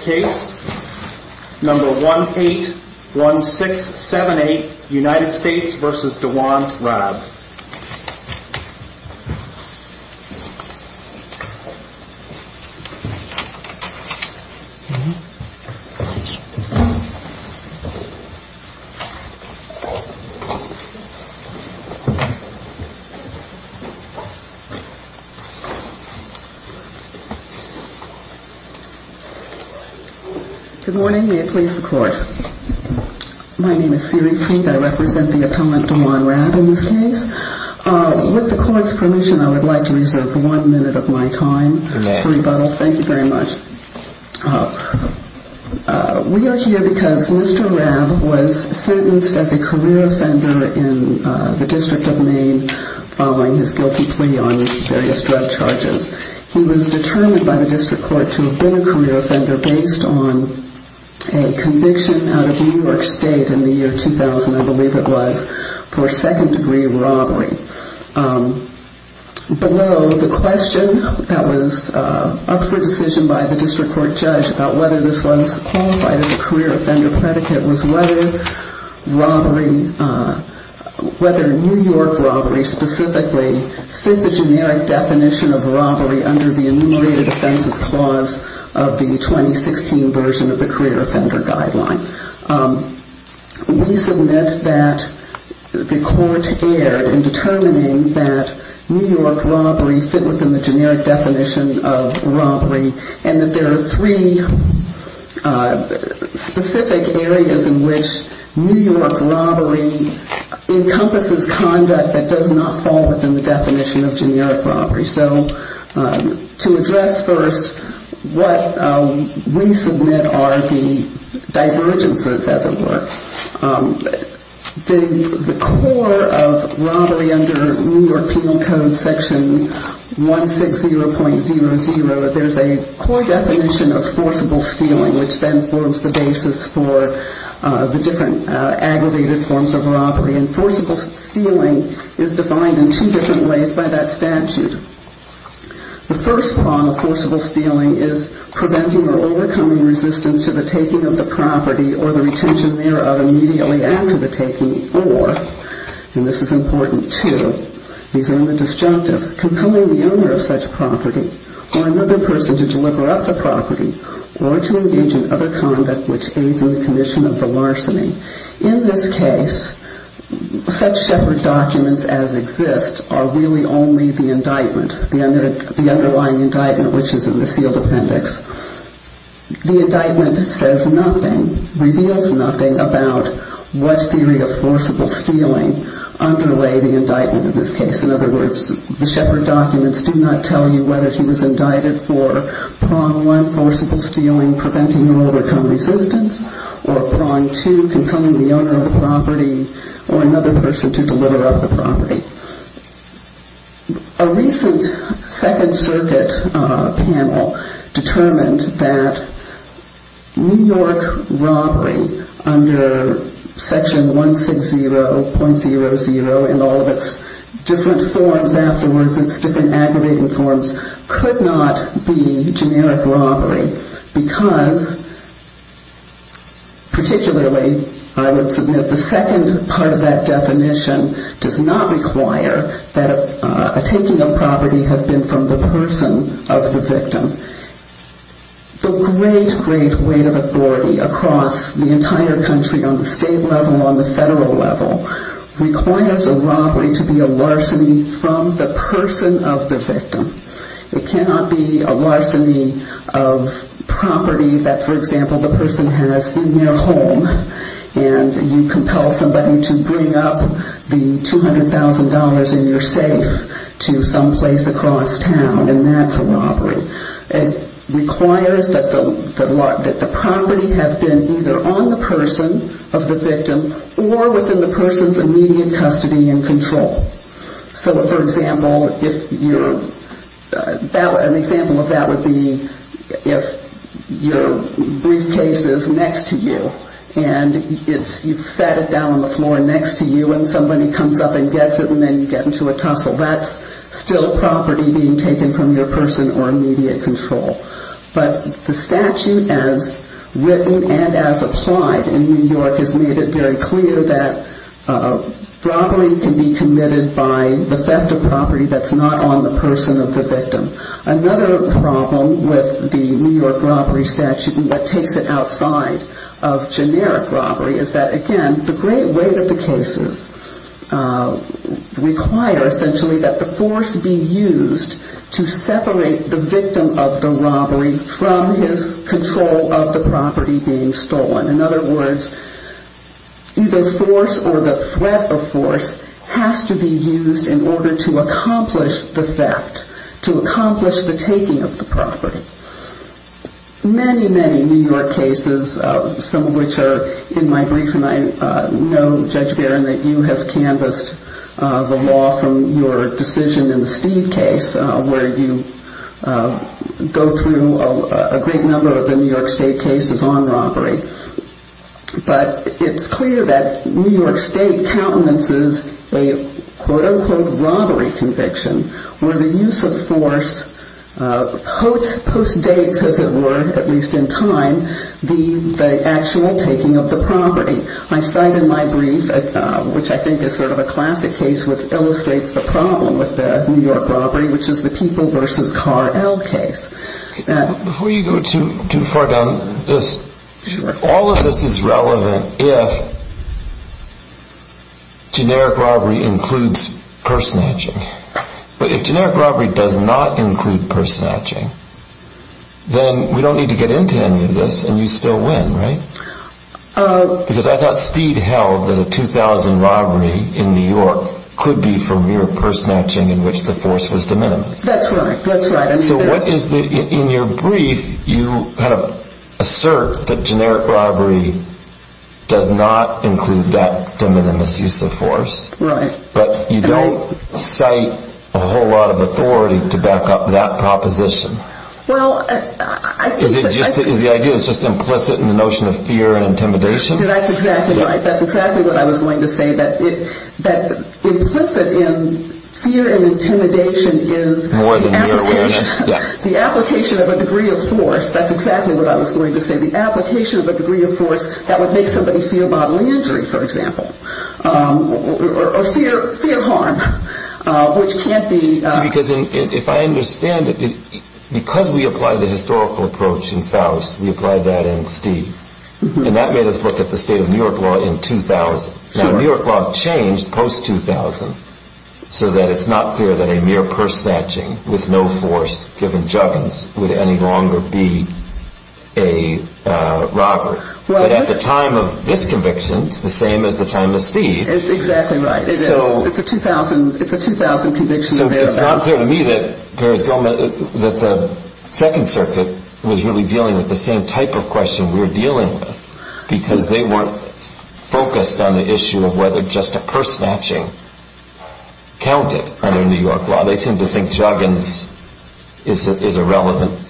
Case number 181678 United States v. Dewan Rabb Good morning. May it please the Court. My name is Siri Preet. I represent the appellant Dewan Rabb in this case. With the Court's permission, I would like to reserve one minute of my time for rebuttal. Thank you very much. We are here because Mr. Rabb was sentenced as a career offender in the District of Maine following his guilty plea on various drug charges. He was determined by the District Court to have been a career offender based on a conviction out of New York State in the year 2000, I believe it was, for second degree robbery. Below the question that was up for decision by the District Court judge about whether this was qualified as a career offender predicate was whether New York robbery specifically fit the generic definition of robbery under the Enumerated Offenses Clause of the 2016 version of the Career Offender Guideline. We submit that the Court erred in determining that New York robbery fit within the generic definition of robbery and that there are three specific areas in which New York robbery encompasses conduct that does not fall within the definition of generic robbery. So to address first, what we submit are the divergences, as it were. The core of robbery under New York Penal Code Section 160.00, there's a core definition of forcible stealing, which then forms the basis for the different aggravated forms of robbery. And forcible stealing is defined in two different ways by that statute. The first form of forcible stealing is preventing or overcoming resistance to the taking of the property or the retention thereof immediately after the taking or, and this is important too, these are in the disjunctive, compelling the owner of such property or another person to deliver up the property or to engage in other conduct which aids in the commission of the larceny. In this case, such Shepard documents as exist are really only the indictment, the underlying indictment which is in the sealed appendix. The indictment says nothing, reveals nothing about what theory of forcible stealing underlay the indictment in this case. In other words, the Shepard documents do not tell you whether he was indicted for prong two, compelling the owner of the property or another person to deliver up the property. A recent Second Circuit panel determined that New York robbery under Section 160.00 and all of its different forms afterwards, its different aggravated forms, could not be generic robbery because particularly I would submit the second part of that definition does not require that a taking of property have been from the person of the victim. The great, great weight of authority across the entire country on the state level, on the federal level requires a robbery to be a larceny from the person of the victim. It cannot be a robbery of property that, for example, the person has in their home and you compel somebody to bring up the $200,000 in your safe to someplace across town and that's a robbery. It requires that the property have been either on the person of the victim or within the person's immediate custody and control. So for example, an example of that would be if your briefcase is next to you and you set it down on the floor next to you and somebody comes up and gets it and then you get into a tussle. That's still property being taken from your person or immediate control. But the statute as written and as applied in New York has made it very clear that robbery can be committed by the theft of property that's not on the person of the victim. Another problem with the New York robbery statute and what takes it outside of generic robbery is that again, the great weight of the cases require essentially that the force be used to separate the victim of the robbery from his control of the property being stolen. In other words, either force or the threat of force has to be used in order to accomplish the theft, to accomplish the taking of the property. Many, many New York cases, some of which are in my brief and I know Judge Barron that you have canvassed the law from your decision in the Steve case where you go through a great number of the New York State cases on robbery. But it's clear that New York State countenances a quote-unquote robbery conviction where the use of force postdates, as it were, at least in time, the actual taking of the property. I cite in my brief, which I think is sort of a classic case which illustrates the problem with the New York robbery, which is the People vs. Car L case. Before you go too far down this, all of this is relevant if generic robbery includes purse snatching. But if generic robbery does not include purse snatching, then we don't need to get into any of this and you still win, right? Because I thought Steve held that a 2000 robbery in New York could be from mere purse snatching in which the So what is the, in your brief, you kind of assert that generic robbery does not include that de minimis use of force. But you don't cite a whole lot of authority to back up that proposition. Is the idea just implicit in the notion of fear and intimidation? That's exactly right. That's exactly what I was going to say. That implicit in fear and intimidation is the application of a degree of force. That's exactly what I was going to say. The application of a degree of force that would make somebody feel bodily injury, for example, or fear harm, which can't be. See, because if I understand it, because we apply the historical approach in Faust, we apply that in Steve. And that made us look at the state of New York law in 2000. Now, New York law changed post-2000 so that it's not clear that a mere purse snatching with no force given juggins would any longer be a robbery. But at the time of this conviction, it's the same as the time of Steve. Exactly right. It's a 2000 conviction. So it's not clear to me that the Second Circuit was really dealing with the same type of whether just a purse snatching counted under New York law. They seem to think juggins is a relevant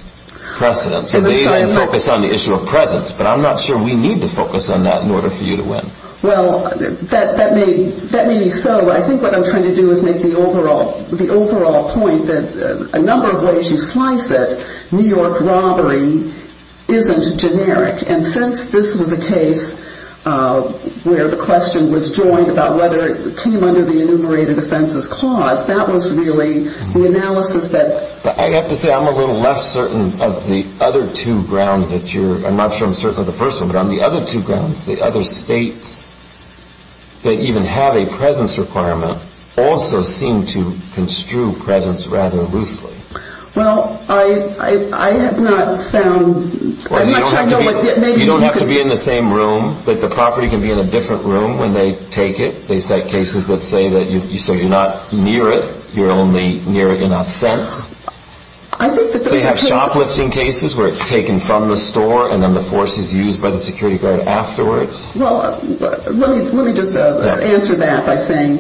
precedent. So they then focus on the issue of presence. But I'm not sure we need to focus on that in order for you to win. Well, that may be so. But I think what I'm trying to do is make the overall point that a number of ways you slice it, New York robbery isn't generic. And since this was a case where the point about whether it came under the enumerated offenses clause, that was really the analysis that... I have to say I'm a little less certain of the other two grounds that you're... I'm not sure I'm certain of the first one. But on the other two grounds, the other states that even have a presence requirement also seem to construe presence rather loosely. Well, I have not found... You don't have to be in the same room. The property can be in a different room when they take it. They set cases that say you're not near it. You're only near it in a sense. I think that... They have shoplifting cases where it's taken from the store and then the force is used by the security guard afterwards. Well, let me just answer that by saying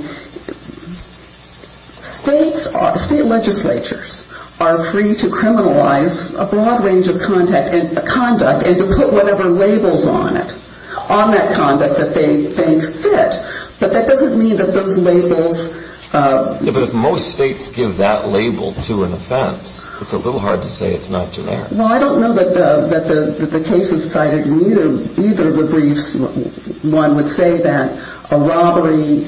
states, state legislatures are free to criminalize a broad conduct and to put whatever labels on it, on that conduct that they think fit. But that doesn't mean that those labels... Yeah, but if most states give that label to an offense, it's a little hard to say it's not generic. Well, I don't know that the cases cited in either of the briefs, one would say that a robbery,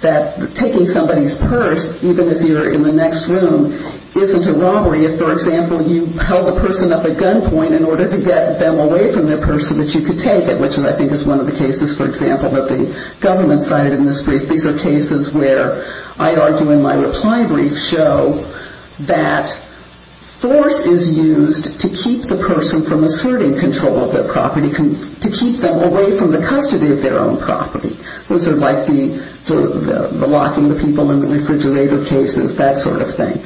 that taking somebody's purse, even if you're in the next room, isn't a robbery if, for example, you held a person up at gunpoint in order to get them away from their purse so that you could take it, which I think is one of the cases, for example, that the government cited in this brief. These are cases where I argue in my reply brief show that force is used to keep the person from asserting control of their property, to keep them away from the custody of their own property. Those are like the locking the people in the refrigerator cases, that sort of thing.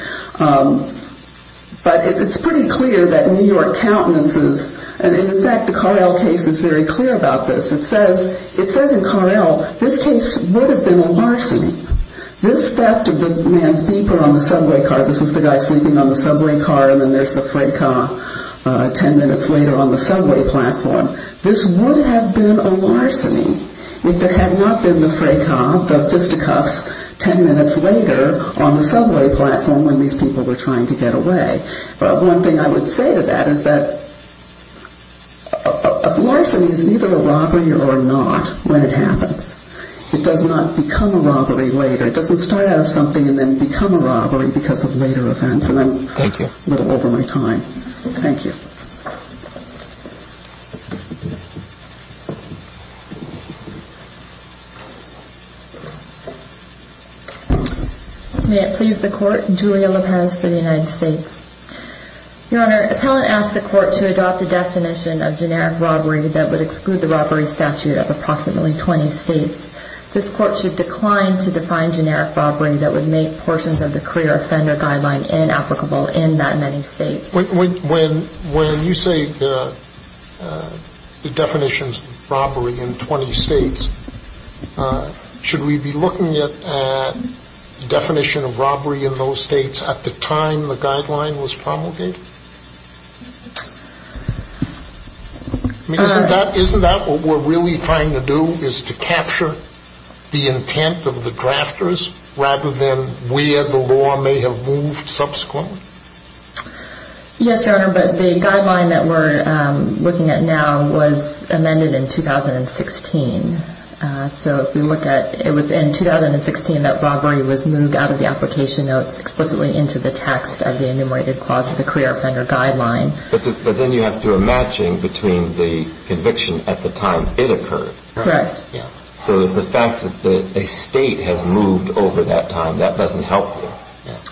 But it's pretty clear that New York countenances, and in fact the Car-El case is very clear about this. It says in Car-El, this case would have been a larceny. This theft of the man's beeper on the subway car, this is the guy sleeping on the subway car and then there's the freight car ten minutes later on the subway platform. This would have been a larceny if there had not been the freight car, the fisticuffs ten minutes later on the subway platform when these people were trying to get away. One thing I would say to that is that a larceny is neither a robbery or not when it happens. It does not become a robbery later. It doesn't start out as something and then become a robbery because of later events. And I'm a little over my time. Thank you. May it please the court, Julia Lopez for the United States. Your Honor, the appellant asked the court to adopt a definition of generic robbery that would exclude the robbery statute of approximately 20 states. This court should decline to define generic robbery that would make portions of the career offender guideline inapplicable in that many states. When you say the definition of robbery in 20 states, should we be looking at the definition of robbery in those states at the time the guideline was promulgated? Isn't that what we're really trying to do is to capture the intent of the drafters rather than where the law may have moved subsequently? Yes, Your Honor, but the guideline that we're looking at now was amended in 2016. So if we look at, it was in 2016 that robbery was moved out of the application notes explicitly into the text of the enumerated clause of the career offender guideline. But then you have to do a matching between the conviction at the time it occurred. Correct. So the fact that a state has moved over that time, that doesn't help us.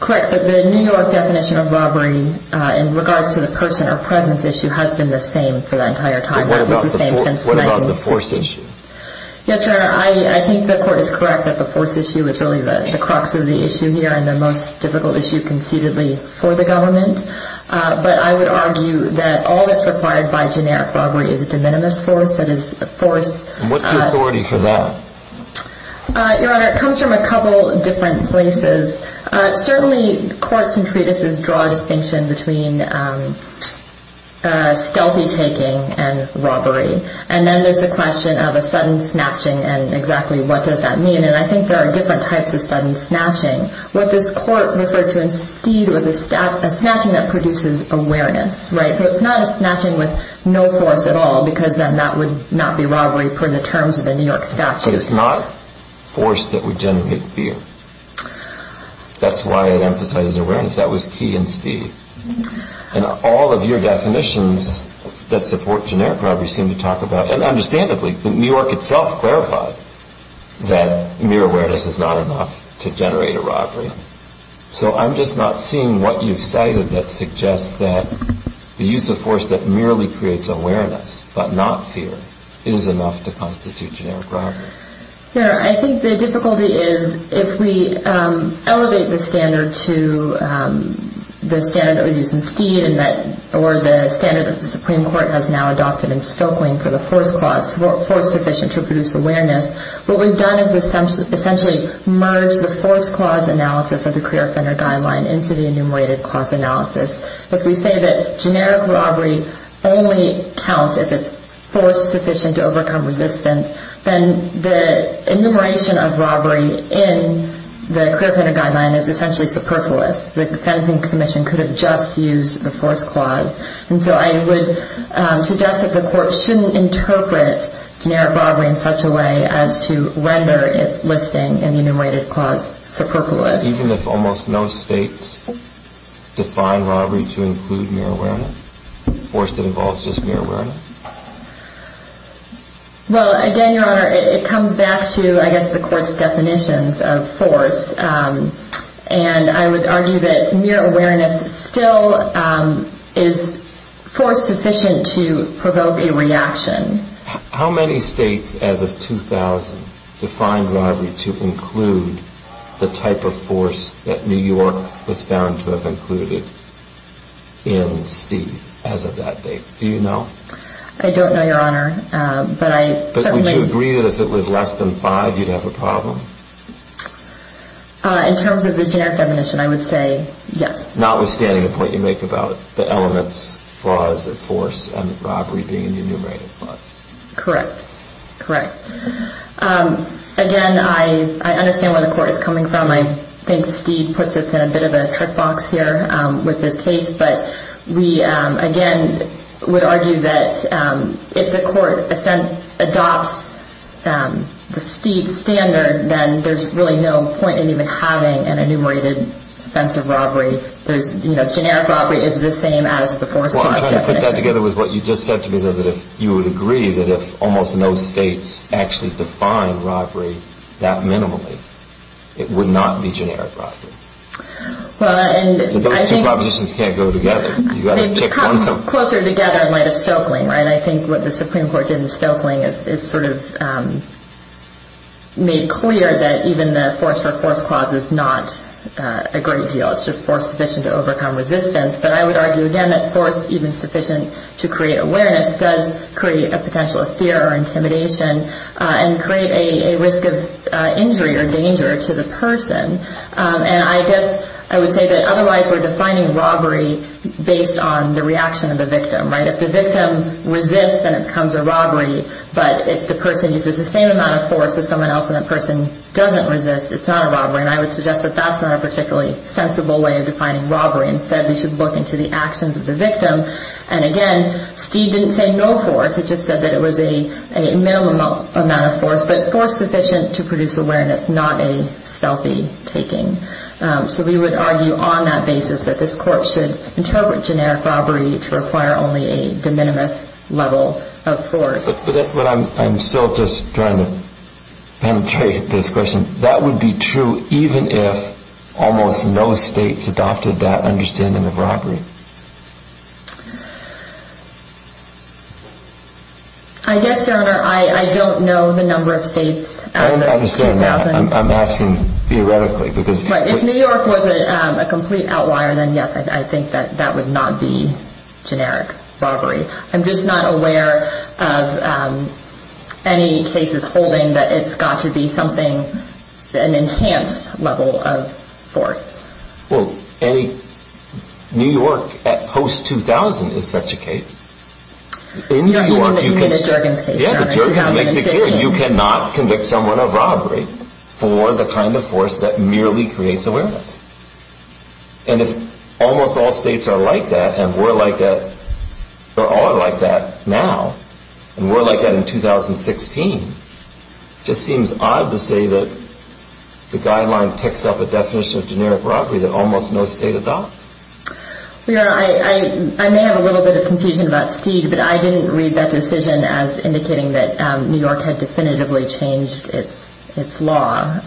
Correct. But the New York definition of robbery in regards to the person or presence issue has been the same for the entire time. What about the force issue? Yes, Your Honor, I think the court is correct that the force issue is really the crux of the issue here and the most difficult issue conceitedly for the government. But I would argue that all that's required by generic robbery is a de minimis force. What's the authority for that? Your Honor, it comes from a lot of different sources. Certainly courts and treatises draw a distinction between stealthy taking and robbery. And then there's the question of a sudden snatching and exactly what does that mean. And I think there are different types of sudden snatching. What this court referred to instead was a snatching that produces awareness. So it's not a snatching with no force at all because then that would not be robbery per the terms of the New York statute. But it's not force that would generate fear. That's why it emphasizes awareness. That was key in Steve. And all of your definitions that support generic robbery seem to talk about, and understandably, New York itself clarified that mere awareness is not enough to generate a robbery. So I'm just not seeing what you've cited that suggests that the use of force that merely creates awareness but not fear is enough to constitute generic robbery. Your Honor, I think the difficulty is if we elevate the standard to the standard that was used in Steve or the standard that the Supreme Court has now adopted in Stokely for the force clause, force sufficient to produce awareness, what we've done is essentially merge the force clause analysis of the career offender guideline into the enumerated clause analysis. If we say that generic robbery only counts if it's force sufficient to overcome resistance, then the enumeration of robbery in the career offender guideline is essentially superfluous. The sentencing commission could have just used the force clause. And so I would suggest that the court shouldn't interpret generic robbery in such a way as to render its listing in the enumerated clause superfluous. Is it just mere awareness? Well, again, Your Honor, it comes back to, I guess, the court's definitions of force. And I would argue that mere awareness still is force sufficient to provoke a reaction. How many states as of 2000 defined robbery to include the type of force that New York was found to have included in Steve as of that time? Do you know? I don't know, Your Honor. But would you agree that if it was less than five, you'd have a problem? In terms of the generic definition, I would say yes. Notwithstanding the point you make about the elements clause of force and robbery being in the enumerated clause. Correct. Correct. Again, I understand where the court is coming from. I think Steve puts us in a bit of a trick box here with this case. I would argue that if the court adopts the standard, then there's really no point in even having an enumerated offense of robbery. Generic robbery is the same as the force. I'm trying to put that together with what you just said to me, though, that if you would agree that if almost no states actually define robbery that minimally, it would not be generic robbery. Those two propositions can't go together. Closer together in light of Stoeckling. I think what the Supreme Court did in Stoeckling is sort of made clear that even the force for force clause is not a great deal. It's just force sufficient to overcome resistance. But I would argue, again, that force even sufficient to create awareness does create a potential fear or intimidation and create a risk of injury or danger to the person. I guess I would say that otherwise we're defining robbery based on the reaction of the victim. If the victim resists, then it becomes a robbery. But if the person uses the same amount of force with someone else and that person doesn't resist, it's not a robbery. And I would suggest that that's not a particularly sensible way of defining robbery. Instead, we should look into the actions of the victim. And again, Steve didn't say no force. He just said that it was a minimum amount of force. But force sufficient to produce awareness, not a stealthy taking. So we would argue on that basis that this court should interpret generic robbery to require only a de minimis level of force. But I'm still just trying to penetrate this question. That would be true even if almost no states adopted that understanding of robbery. I guess, Your Honor, I don't know the number of states. I understand that. I'm asking theoretically. If New York was a complete outlier, then yes, I think that would not be generic robbery. I'm just not aware of any cases holding that it's got to be something, an enhanced level of force. Well, Annie, New York at post-2000 is such a case. You mean the Jurgens case? Yeah, the Jurgens case. You cannot convict someone of robbery for the kind of force that merely creates awareness. And if almost all states are like that, and we're like that, we're all like that now, and we're like that in 2016, it just seems odd to say that the guideline picks up a definition of generic robbery that almost no state adopts. Well, Your Honor, I may have a little bit of confusion about Steve, but I didn't read that decision as indicating that New York had definitively changed its law.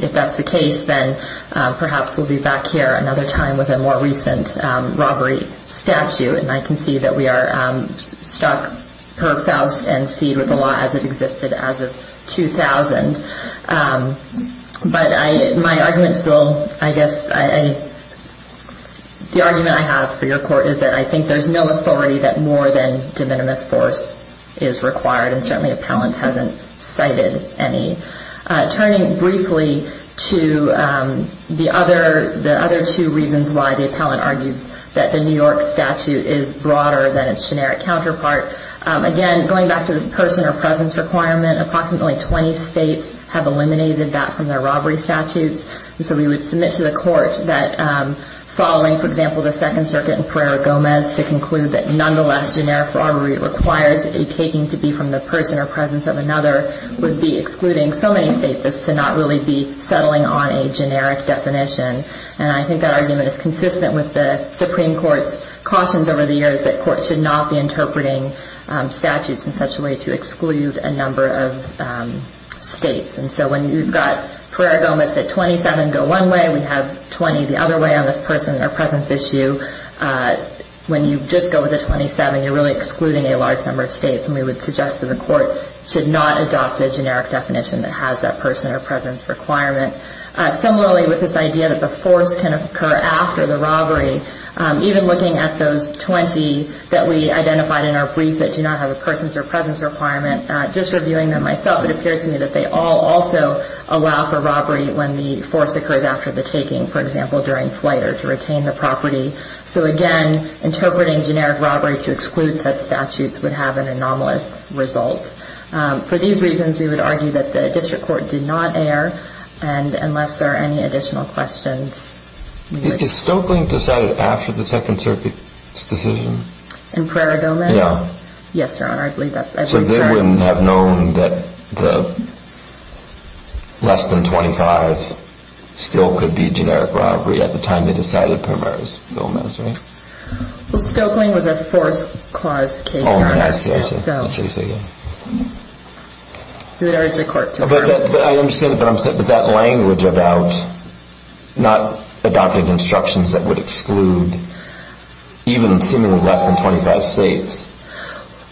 If that's the case, then perhaps we'll be back here another time with a more recent robbery statute, and I can see that we are stuck per faust and seed with the law as it existed as of 2000. But my argument still, I guess, the argument I have for your court is that I think there's no authority that more than de minimis force is required, and certainly appellant hasn't cited any. Turning briefly to the other two reasons why the appellant argues that the New York statute is broader than its generic counterpart, again, going back to this person or presence requirement, approximately 20 states have eliminated that from their robbery statutes. And so we would submit to the court that following, for example, the Second Circuit in Pereira-Gomez to conclude that nonetheless generic robbery requires a taking to be from the person or presence of another would be excluding so many states as to not really be settling on a generic definition. And I think that argument is consistent with the Supreme Court's cautions over the years that courts should not be interpreting statutes in such a way to exclude a number of states. And so when you've got Pereira-Gomez at 27 go one way, we have 20 the other way on this person or presence issue, when you just go with the 27, you're really excluding a large number of states, and we would suggest to the court to not adopt a generic definition that has that person or presence requirement. Similarly, with this idea that the force can occur after the robbery, even looking at those 20 that we identified in our brief that do not have a person's or presence requirement, just reviewing them myself, it appears to me that they all also allow for robbery when the force occurs after the taking, for example, during flight or to retain the property. So again, interpreting generic robbery to exclude such statutes would have an anomalous result. For these reasons, we would argue that the district court did not err, and unless there are any additional questions. Is Stokely decided after the Second Circuit's decision? In Pereira-Gomez? Yeah. Yes, Your Honor, I believe that. So they wouldn't have known that the less than 25 still could be a generic robbery at the time they decided Pereira-Gomez, right? Well, Stokely was a force clause case. Oh, I see, I see. That's what you're saying. But I understand what you're saying, but that language about not adopting instructions that would exclude even seemingly less than 25 states.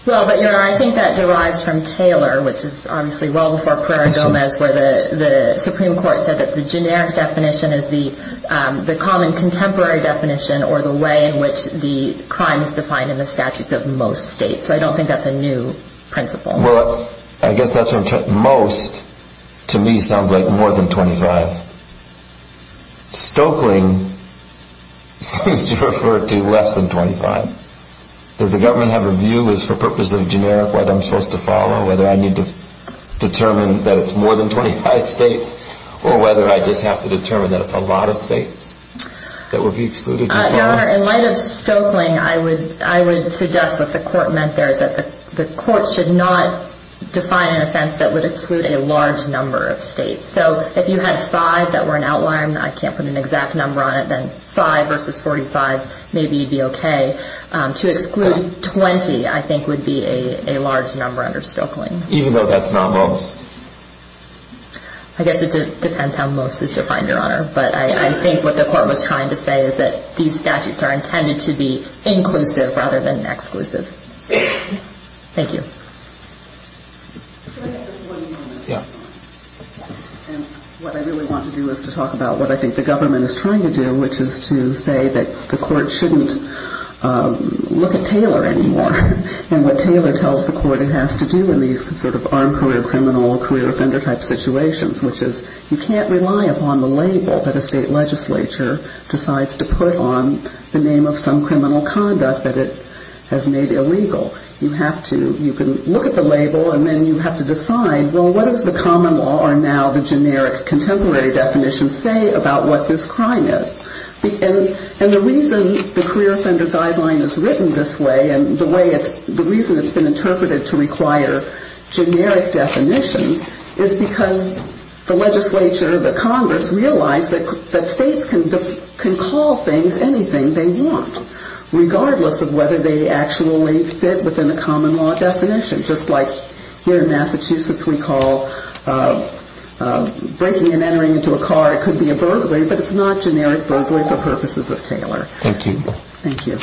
Well, but Your Honor, I think that derives from Taylor, which is obviously well before Pereira-Gomez, where the Supreme Court said that the generic definition is the common contemporary definition or the way in which the crime is defined in the statutes of most states. So I don't think that's a new principle. Well, I guess that's what most to me sounds like more than 25. Stokely seems to refer to less than 25. Does the government have a view as for purposes of generic what I'm supposed to follow, whether I need to determine that it's more than 25 states or whether I just have to determine that it's a lot of states that would be excluded? Your Honor, in light of Stokely, I would suggest what the court meant there is that the court should not define an offense that would exclude a large number of states. So if you had five that were an outlier and I can't put an exact number on it, then five versus 45 maybe would be okay. To exclude 20, I think, would be a large number under Stokely. Even though that's not most? I guess it depends how most is defined, Your Honor. But I think what the court was trying to say is that these statutes are intended to be inclusive rather than exclusive. Thank you. Can I have just one moment? Yeah. And what I really want to do is to talk about what I think the government is trying to do, which is to say that the court shouldn't look at Taylor anymore and what Taylor tells the court it has to do in these sort of armed career criminal, career offender type situations, which is you can't rely upon the label that a state legislature decides to put on the name of some criminal conduct that it has made illegal. You have to. You can look at the label and then you have to decide, well, what does the common law or now the generic contemporary definition say about what this crime is? And the reason the career offender guideline is written this way and the reason it's been interpreted to require generic definitions is because the legislature, the Congress realized that states can call things anything they want, regardless of whether they actually fit within the common law definition, just like here in Massachusetts we call breaking and entering into a car, it could be a burglary, but it's not generic burglary for purposes of Taylor. Thank you. Thank you.